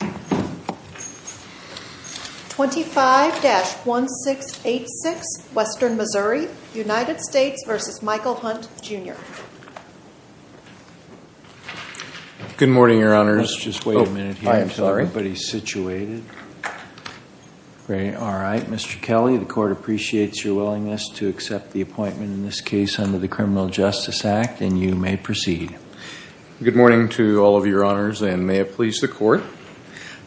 25-1686, Western Missouri, United States v. Michael Hunt, Jr. Good morning, Your Honors. Let's just wait a minute here until everybody is situated. All right, Mr. Kelly, the Court appreciates your willingness to accept the appointment in this case under the Criminal Justice Act, and you may proceed. Good morning to all of Your Honors, and may it please the Court.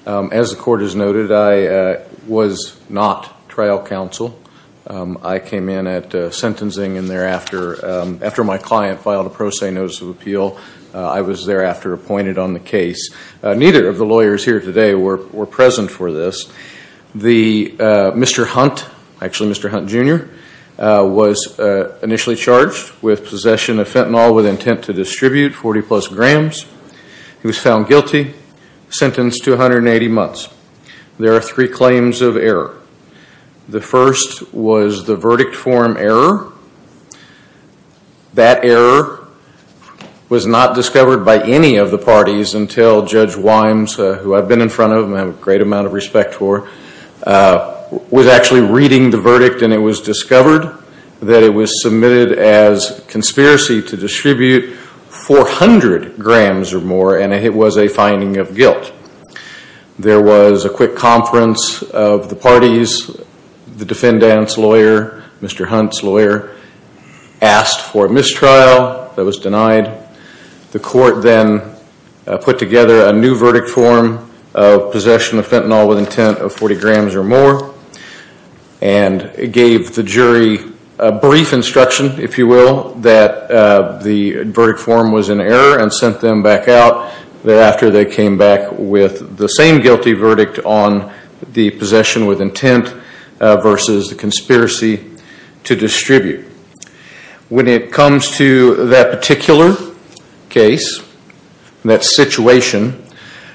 As the Court has noted, I was not trial counsel. I came in at sentencing, and thereafter, after my client filed a pro se notice of appeal, I was thereafter appointed on the case. Neither of the lawyers here today were present for this. Mr. Hunt, actually Mr. Hunt, Jr., was initially charged with possession of fentanyl with intent to distribute 40-plus grams. He was found guilty, sentenced to 180 months. There are three claims of error. The first was the verdict form error. That error was not discovered by any of the parties until Judge Wimes, who I've been in front of and have a great amount of respect for, was actually reading the verdict, and it was discovered that it was submitted as conspiracy to distribute 400 grams or more, and it was a finding of guilt. There was a quick conference of the parties. The defendant's lawyer, Mr. Hunt's lawyer, asked for mistrial. That was denied. The Court then put together a new verdict form of possession of fentanyl with intent of 40 grams or more, and gave the jury a brief instruction, if you will, that the verdict form was in error, and sent them back out thereafter. They came back with the same guilty verdict on the possession with intent versus the conspiracy to distribute. When it comes to that particular case, that situation,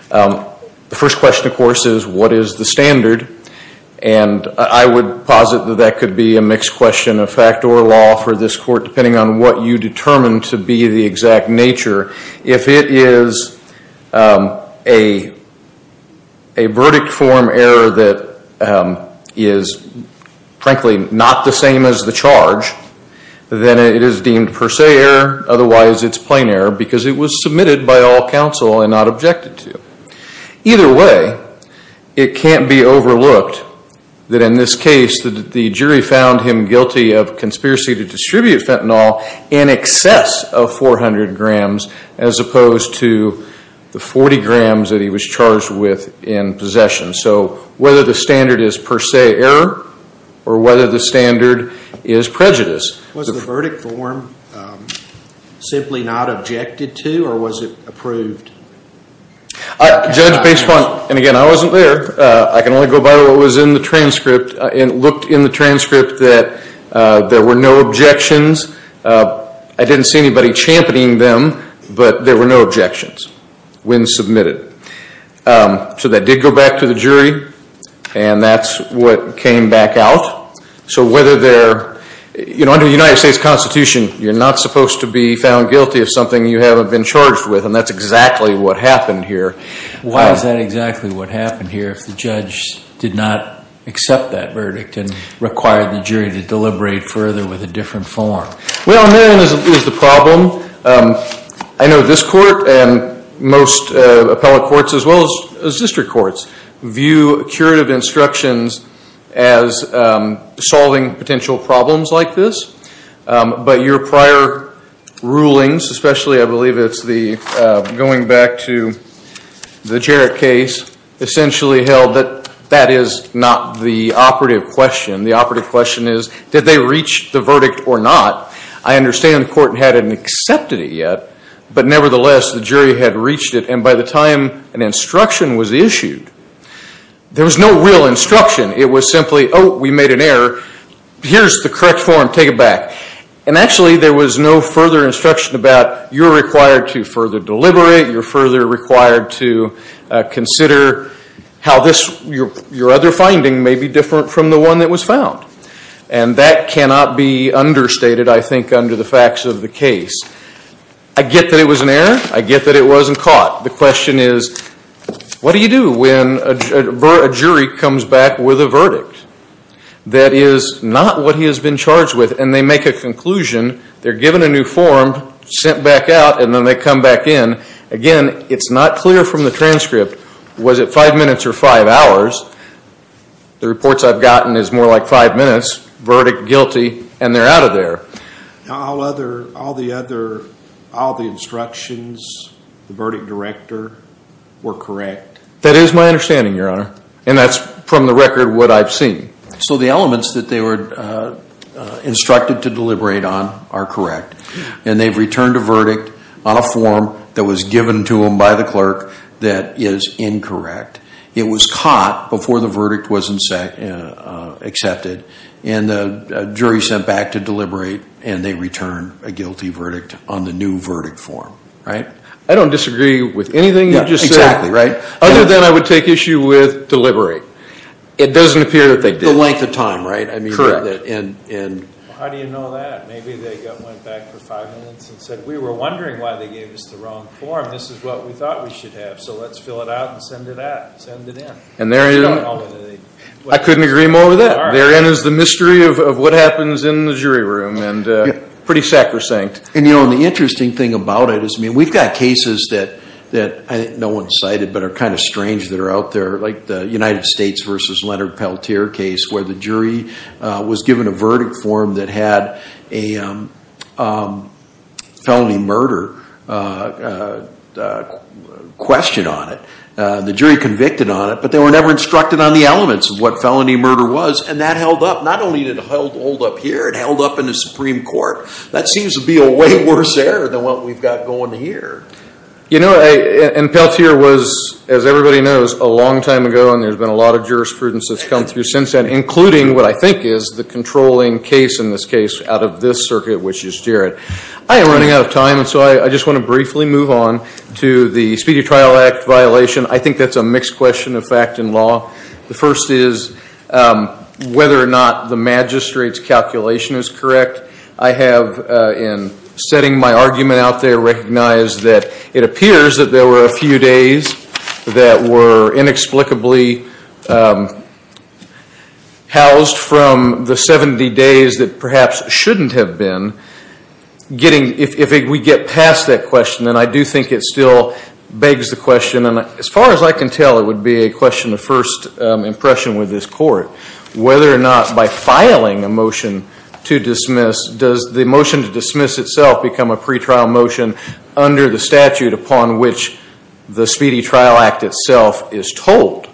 the first question, of course, is what is the standard? And I would posit that that could be a mixed question of fact or law for this Court, depending on what you determine to be the exact nature. If it is a verdict form error that is, frankly, not the same as the charge, then it is deemed per se error. Otherwise, it's plain error because it was submitted by all counsel and not objected to. Either way, it can't be overlooked that in this case the jury found him guilty of conspiracy to distribute fentanyl in excess of 400 grams, as opposed to the 40 grams that he was charged with in possession. So whether the standard is per se error or whether the standard is prejudice. Was the verdict form simply not objected to or was it approved? Judge, based on, and again, I wasn't there. I can only go by what was in the transcript. It looked in the transcript that there were no objections. I didn't see anybody championing them, but there were no objections when submitted. So that did go back to the jury, and that's what came back out. Under the United States Constitution, you're not supposed to be found guilty of something you haven't been charged with, and that's exactly what happened here. Why is that exactly what happened here if the judge did not accept that verdict and required the jury to deliberate further with a different form? Well, and then is the problem. I know this court and most appellate courts, as well as district courts, view curative instructions as solving potential problems like this, but your prior rulings, especially I believe it's the going back to the Jarrett case, essentially held that that is not the operative question. The operative question is did they reach the verdict or not? I understand the court hadn't accepted it yet, but nevertheless, the jury had reached it, and by the time an instruction was issued, there was no real instruction. It was simply, oh, we made an error. Here's the correct form. Take it back. And actually, there was no further instruction about you're required to further deliberate. You're further required to consider how your other finding may be different from the one that was found, and that cannot be understated, I think, under the facts of the case. I get that it was an error. I get that it wasn't caught. The question is what do you do when a jury comes back with a verdict that is not what he has been charged with, and they make a conclusion. They're given a new form, sent back out, and then they come back in. Again, it's not clear from the transcript. Was it five minutes or five hours? The reports I've gotten is more like five minutes, verdict guilty, and they're out of there. All the instructions, the verdict director, were correct? That is my understanding, Your Honor, and that's from the record what I've seen. So the elements that they were instructed to deliberate on are correct, and they've returned a verdict on a form that was given to them by the clerk that is incorrect. It was caught before the verdict was accepted, and the jury sent back to deliberate, and they return a guilty verdict on the new verdict form. I don't disagree with anything you've just said other than I would take issue with deliberate. It doesn't appear that they did. The length of time, right? How do you know that? Maybe they went back for five minutes and said, we were wondering why they gave us the wrong form. This is what we thought we should have, so let's fill it out and send it out, send it in. I couldn't agree more with that. Therein is the mystery of what happens in the jury room, and pretty sacrosanct. The interesting thing about it is we've got cases that no one cited but are kind of strange that are out there, like the United States v. Leonard Peltier case where the jury was given a verdict form that had a felony murder question on it. The jury convicted on it, but they were never instructed on the elements of what felony murder was, and that held up. Not only did it hold up here, it held up in the Supreme Court. That seems to be a way worse error than what we've got going here. Peltier was, as everybody knows, a long time ago, and there's been a lot of jurisprudence that's come through since then, including what I think is the controlling case in this case out of this circuit, which is Jarrett. I am running out of time, so I just want to briefly move on to the Speedy Trial Act violation. I think that's a mixed question of fact and law. The first is whether or not the magistrate's calculation is correct. I have, in setting my argument out there, recognized that it appears that there were a few days that were inexplicably housed from the 70 days that perhaps shouldn't have been. If we get past that question, then I do think it still begs the question, and as far as I can tell, it would be a question of first impression with this court, whether or not by filing a motion to dismiss, does the motion to dismiss itself become a pretrial motion under the statute upon which the Speedy Trial Act itself is told?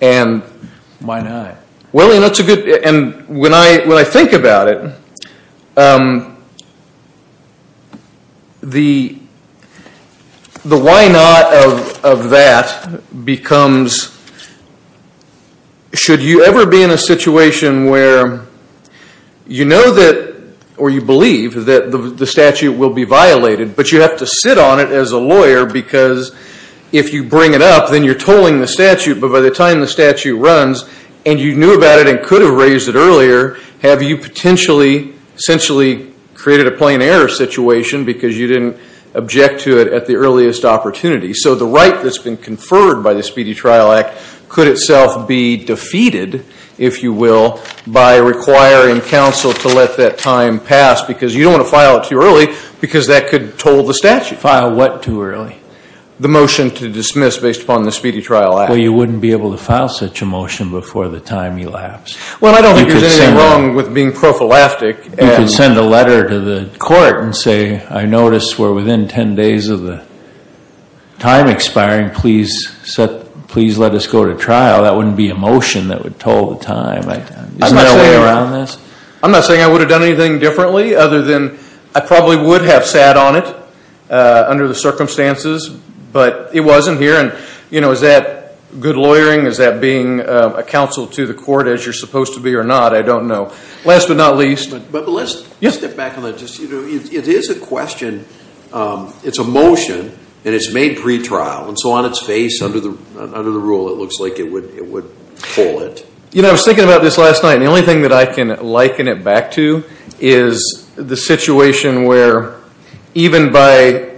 Why not? When I think about it, the why not of that becomes, should you ever be in a situation where you know that, or you believe that the statute will be violated, but you have to sit on it as a lawyer, because if you bring it up, then you're tolling the statute, but by the time the statute runs, and you knew about it and could have raised it earlier, have you essentially created a plain error situation because you didn't object to it at the earliest opportunity? So the right that's been conferred by the Speedy Trial Act could itself be defeated, if you will, by requiring counsel to let that time pass, because you don't want to file it too early, because that could toll the statute. File what too early? The motion to dismiss based upon the Speedy Trial Act. Well, you wouldn't be able to file such a motion before the time elapsed. Well, I don't think there's anything wrong with being prophylactic. You could send a letter to the court and say, I notice we're within 10 days of the time expiring. Please let us go to trial. That wouldn't be a motion that would toll the time. Isn't there a way around this? I'm not saying I would have done anything differently other than I probably would have sat on it under the circumstances, but it wasn't here, and, you know, is that good lawyering? Is that being a counsel to the court as you're supposed to be or not? I don't know. Last but not least. But let's step back a little. It is a question. It's a motion, and it's made pretrial, and so on its face under the rule it looks like it would toll it. You know, I was thinking about this last night, and the only thing that I can liken it back to is the situation where, even by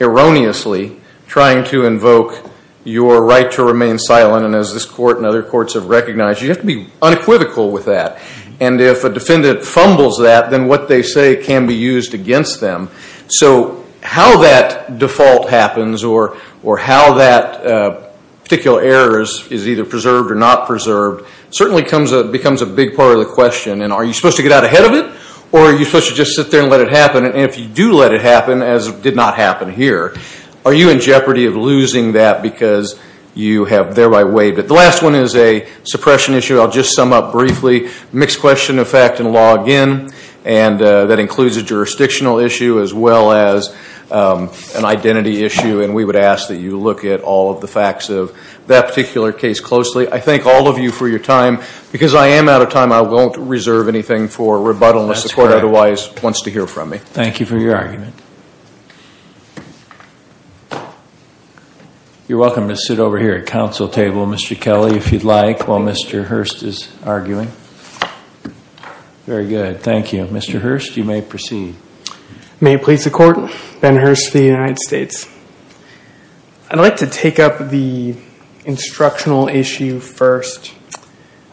erroneously trying to invoke your right to remain silent, and as this court and other courts have recognized, you have to be unequivocal with that. And if a defendant fumbles that, then what they say can be used against them. So how that default happens or how that particular error is either preserved or not preserved certainly becomes a big part of the question, and are you supposed to get out ahead of it or are you supposed to just sit there and let it happen? And if you do let it happen, as did not happen here, are you in jeopardy of losing that because you have thereby waived it? The last one is a suppression issue. I'll just sum up briefly. Mixed question of fact and law again, and that includes a jurisdictional issue as well as an identity issue, and we would ask that you look at all of the facts of that particular case closely. I thank all of you for your time. Because I am out of time, I won't reserve anything for rebuttal. The court otherwise wants to hear from me. Thank you for your argument. You're welcome to sit over here at the council table, Mr. Kelly, if you'd like, while Mr. Hurst is arguing. Very good. Thank you. Mr. Hurst, you may proceed. May it please the Court, Ben Hurst for the United States. I'd like to take up the instructional issue first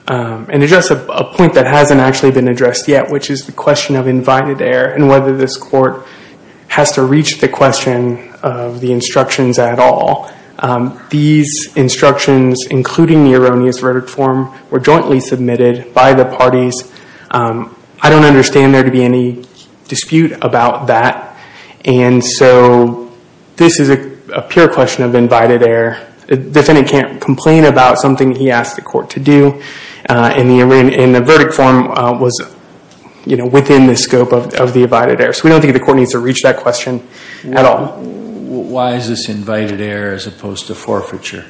and address a point that hasn't actually been addressed yet, which is the question of invited error and whether this court has to reach the question of the instructions at all. These instructions, including the erroneous verdict form, were jointly submitted by the parties. I don't understand there to be any dispute about that. This is a pure question of invited error. The defendant can't complain about something he asked the court to do, and the verdict form was within the scope of the invited error. We don't think the court needs to reach that question at all. Why is this invited error as opposed to forfeiture?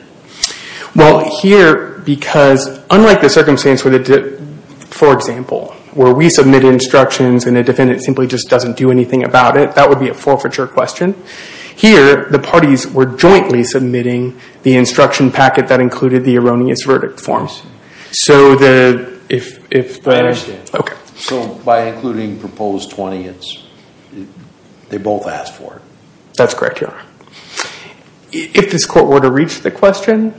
Here, because unlike the circumstance, for example, where we submit instructions and a defendant simply just doesn't do anything about it, that would be a forfeiture question. Here, the parties were jointly submitting the instruction packet that included the erroneous verdict forms. I understand. Okay. So by including proposed 20, they both asked for it. That's correct, Your Honor. If this court were to reach the question,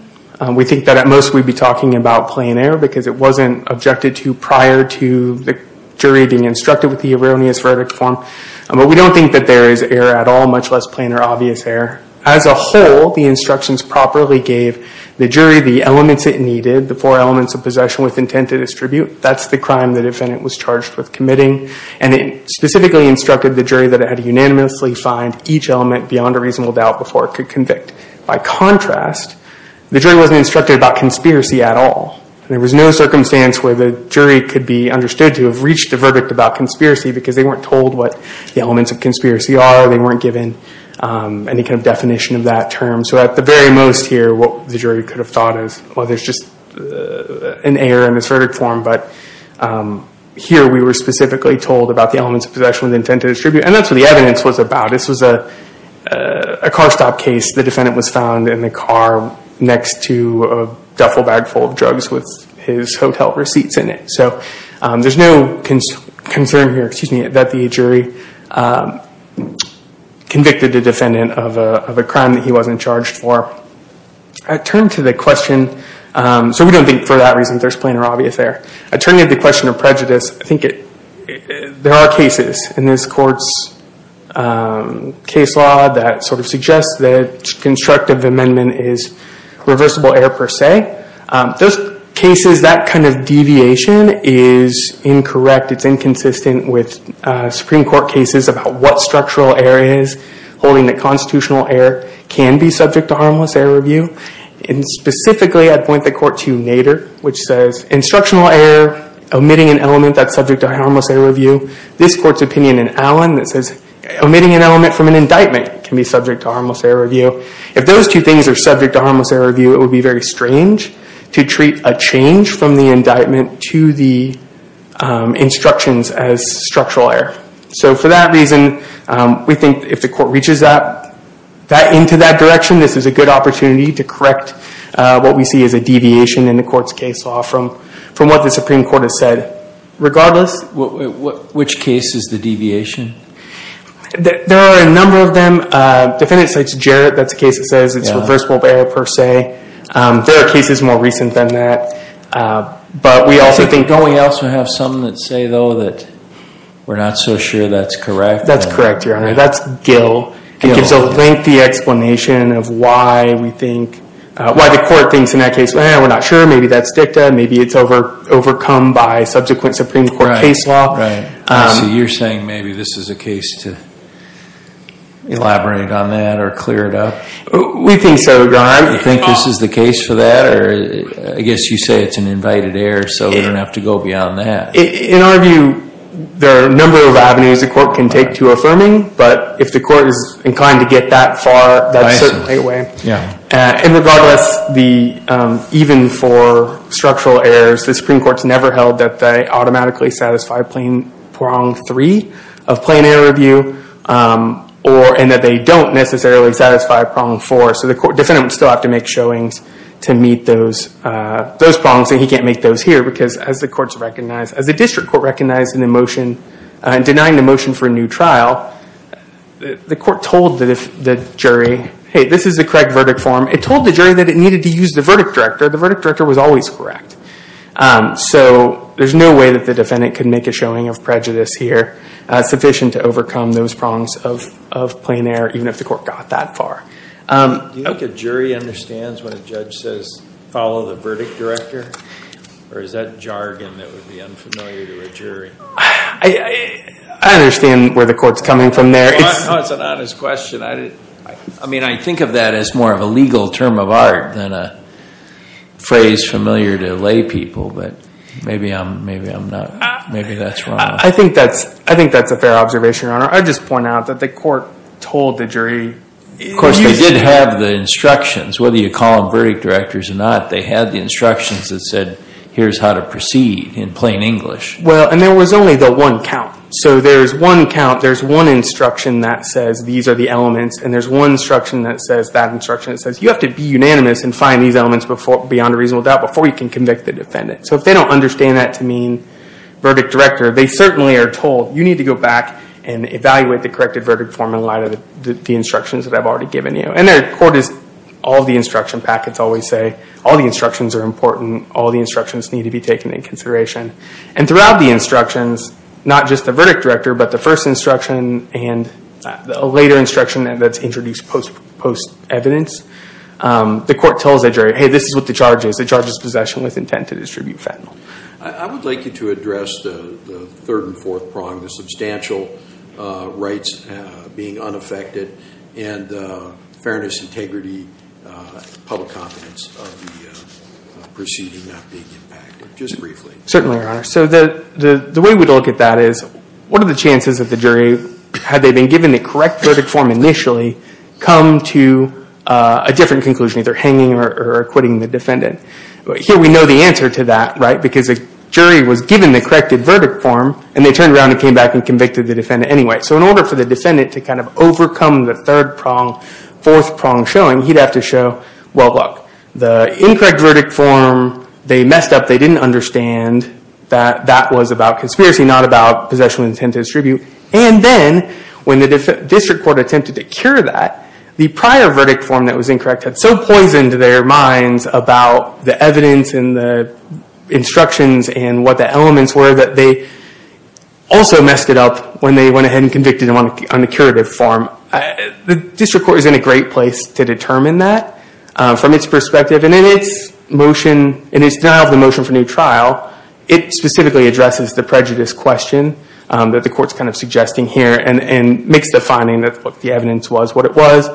we think that at most we'd be talking about plain error because it wasn't objected to prior to the jury being instructed with the erroneous verdict form. But we don't think that there is error at all, much less plain or obvious error. As a whole, the instructions properly gave the jury the elements it needed, the four elements of possession with intent to distribute. That's the crime the defendant was charged with committing. And it specifically instructed the jury that it had to unanimously find each element beyond a reasonable doubt before it could convict. By contrast, the jury wasn't instructed about conspiracy at all. There was no circumstance where the jury could be understood to have reached a verdict about conspiracy because they weren't told what the elements of conspiracy are. They weren't given any kind of definition of that term. So at the very most here, what the jury could have thought is, well, there's just an error in this verdict form. But here we were specifically told about the elements of possession with intent to distribute. And that's what the evidence was about. This was a car stop case. The defendant was found in the car next to a duffel bag full of drugs with his hotel receipts in it. So there's no concern here that the jury convicted the defendant of a crime that he wasn't charged for. I turn to the question. So we don't think for that reason there's plain or obvious error. I turn to the question of prejudice. I think there are cases in this court's case law that sort of suggests that constructive amendment is reversible error per se. Those cases, that kind of deviation is incorrect. It's inconsistent with Supreme Court cases about what structural error is. Holding that constitutional error can be subject to harmless error review. And specifically, I'd point the court to Nader, which says, Instructional error, omitting an element that's subject to harmless error review. This court's opinion in Allen that says, omitting an element from an indictment can be subject to harmless error review. If those two things are subject to harmless error review, it would be very strange to treat a change from the indictment to the instructions as structural error. So for that reason, we think if the court reaches into that direction, this is a good opportunity to correct what we see as a deviation in the court's case law from what the Supreme Court has said. Regardless, which case is the deviation? There are a number of them. Defendant cites Jarrett. That's a case that says it's reversible error per se. There are cases more recent than that. But we also think— Don't we also have some that say, though, that we're not so sure that's correct? That's correct, Your Honor. That's Gill. It gives a lengthy explanation of why the court thinks in that case, we're not sure, maybe that's dicta, maybe it's overcome by subsequent Supreme Court case law. So you're saying maybe this is a case to elaborate on that or clear it up? We think so, Your Honor. You think this is the case for that? I guess you say it's an invited error, so we don't have to go beyond that. In our view, there are a number of avenues the court can take to affirming. But if the court is inclined to get that far, that's certainly a way. And regardless, even for structural errors, the Supreme Court's never held that they automatically satisfy prong three of plain error review and that they don't necessarily satisfy prong four. So the defendant would still have to make showings to meet those prongs, and he can't make those here because, as the district court recognized in the motion, well, the court told the jury, hey, this is the correct verdict form. It told the jury that it needed to use the verdict director. The verdict director was always correct. So there's no way that the defendant can make a showing of prejudice here sufficient to overcome those prongs of plain error, even if the court got that far. Do you think a jury understands when a judge says, follow the verdict director? Or is that jargon that would be unfamiliar to a jury? I understand where the court's coming from there. No, it's an honest question. I mean, I think of that as more of a legal term of art than a phrase familiar to lay people. But maybe I'm not. Maybe that's wrong. I think that's a fair observation, Your Honor. I'd just point out that the court told the jury. Of course, they did have the instructions. Whether you call them verdict directors or not, they had the instructions that said, here's how to proceed in plain English. Well, and there was only the one count. So there's one count. There's one instruction that says, these are the elements. And there's one instruction that says, that instruction says, you have to be unanimous and find these elements beyond a reasonable doubt before you can convict the defendant. So if they don't understand that to mean verdict director, they certainly are told, you need to go back and evaluate the corrected verdict form in light of the instructions that I've already given you. And the court is, all the instruction packets always say, all the instructions are important. All the instructions need to be taken into consideration. And throughout the instructions, not just the verdict director, but the first instruction and a later instruction that's introduced post-evidence, the court tells the jury, hey, this is what the charge is. The charge is possession with intent to distribute fentanyl. I would like you to address the third and fourth prong, the substantial rights being unaffected and fairness, integrity, public confidence of the proceeding not being impacted, just briefly. Certainly, Your Honor. So the way we look at that is, what are the chances that the jury, had they been given the correct verdict form initially, come to a different conclusion, either hanging or acquitting the defendant? Here we know the answer to that, right, because the jury was given the corrected verdict form and they turned around and came back and convicted the defendant anyway. So in order for the defendant to kind of overcome the third prong, fourth prong showing, he'd have to show, well, look, the incorrect verdict form, they messed up, they didn't understand that that was about conspiracy, not about possession with intent to distribute. And then, when the district court attempted to cure that, the prior verdict form that was incorrect had so poisoned their minds about the evidence and the instructions and what the elements were that they also messed it up when they went ahead and convicted him on the curative form. The district court is in a great place to determine that from its perspective. And in its motion, in its denial of the motion for new trial, it specifically addresses the prejudice question that the court's kind of suggesting here and makes the finding that the evidence was what it was,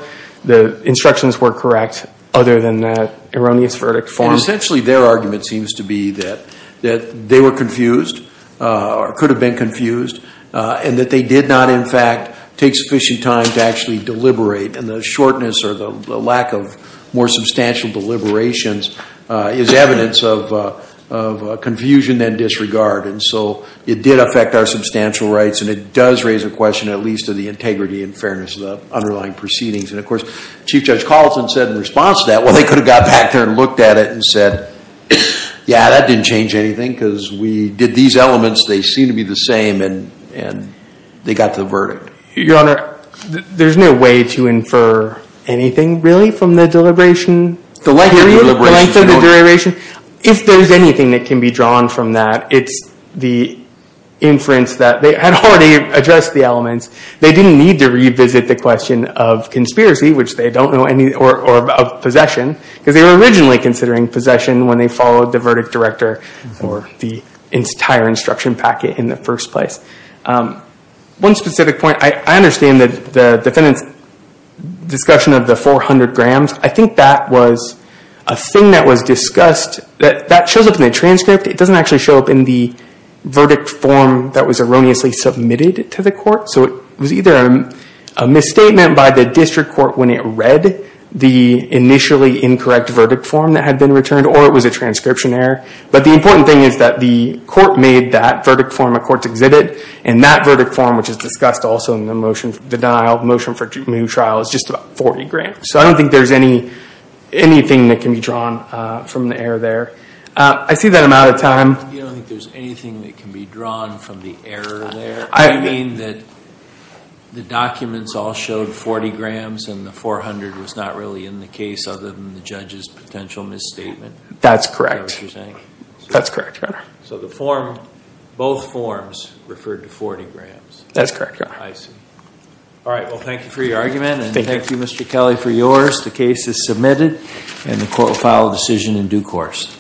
the instructions were correct other than that erroneous verdict form. And essentially their argument seems to be that they were confused or could have been confused and that they did not, in fact, take sufficient time to actually deliberate. And the shortness or the lack of more substantial deliberations is evidence of confusion and disregard. And so it did affect our substantial rights, and it does raise a question at least of the integrity and fairness of the underlying proceedings. And, of course, Chief Judge Collison said in response to that, well, they could have got back there and looked at it and said, yeah, that didn't change anything because we did these elements, they seem to be the same, and they got to the verdict. Your Honor, there's no way to infer anything really from the deliberation period, the length of the deliberation. If there's anything that can be drawn from that, it's the inference that they had already addressed the elements. They didn't need to revisit the question of conspiracy, which they don't know, or of possession, because they were originally considering possession when they followed the verdict director or the entire instruction packet in the first place. One specific point. I understand that the defendant's discussion of the 400 grams, I think that was a thing that was discussed. That shows up in the transcript. It doesn't actually show up in the verdict form that was erroneously submitted to the court. So it was either a misstatement by the district court when it read the initially incorrect verdict form that had been returned, or it was a transcription error. But the important thing is that the court made that verdict form, a court's exhibit, and that verdict form, which is discussed also in the motion for denial, motion for new trial, is just about 40 grams. So I don't think there's anything that can be drawn from the error there. I see that I'm out of time. You don't think there's anything that can be drawn from the error there? You mean that the documents all showed 40 grams and the 400 was not really in the case other than the judge's potential misstatement? That's correct. That's what you're saying? That's correct. So both forms referred to 40 grams? That's correct. I see. All right, well, thank you for your argument, and thank you, Mr. Kelly, for yours. The case is submitted, and the court will file a decision in due course.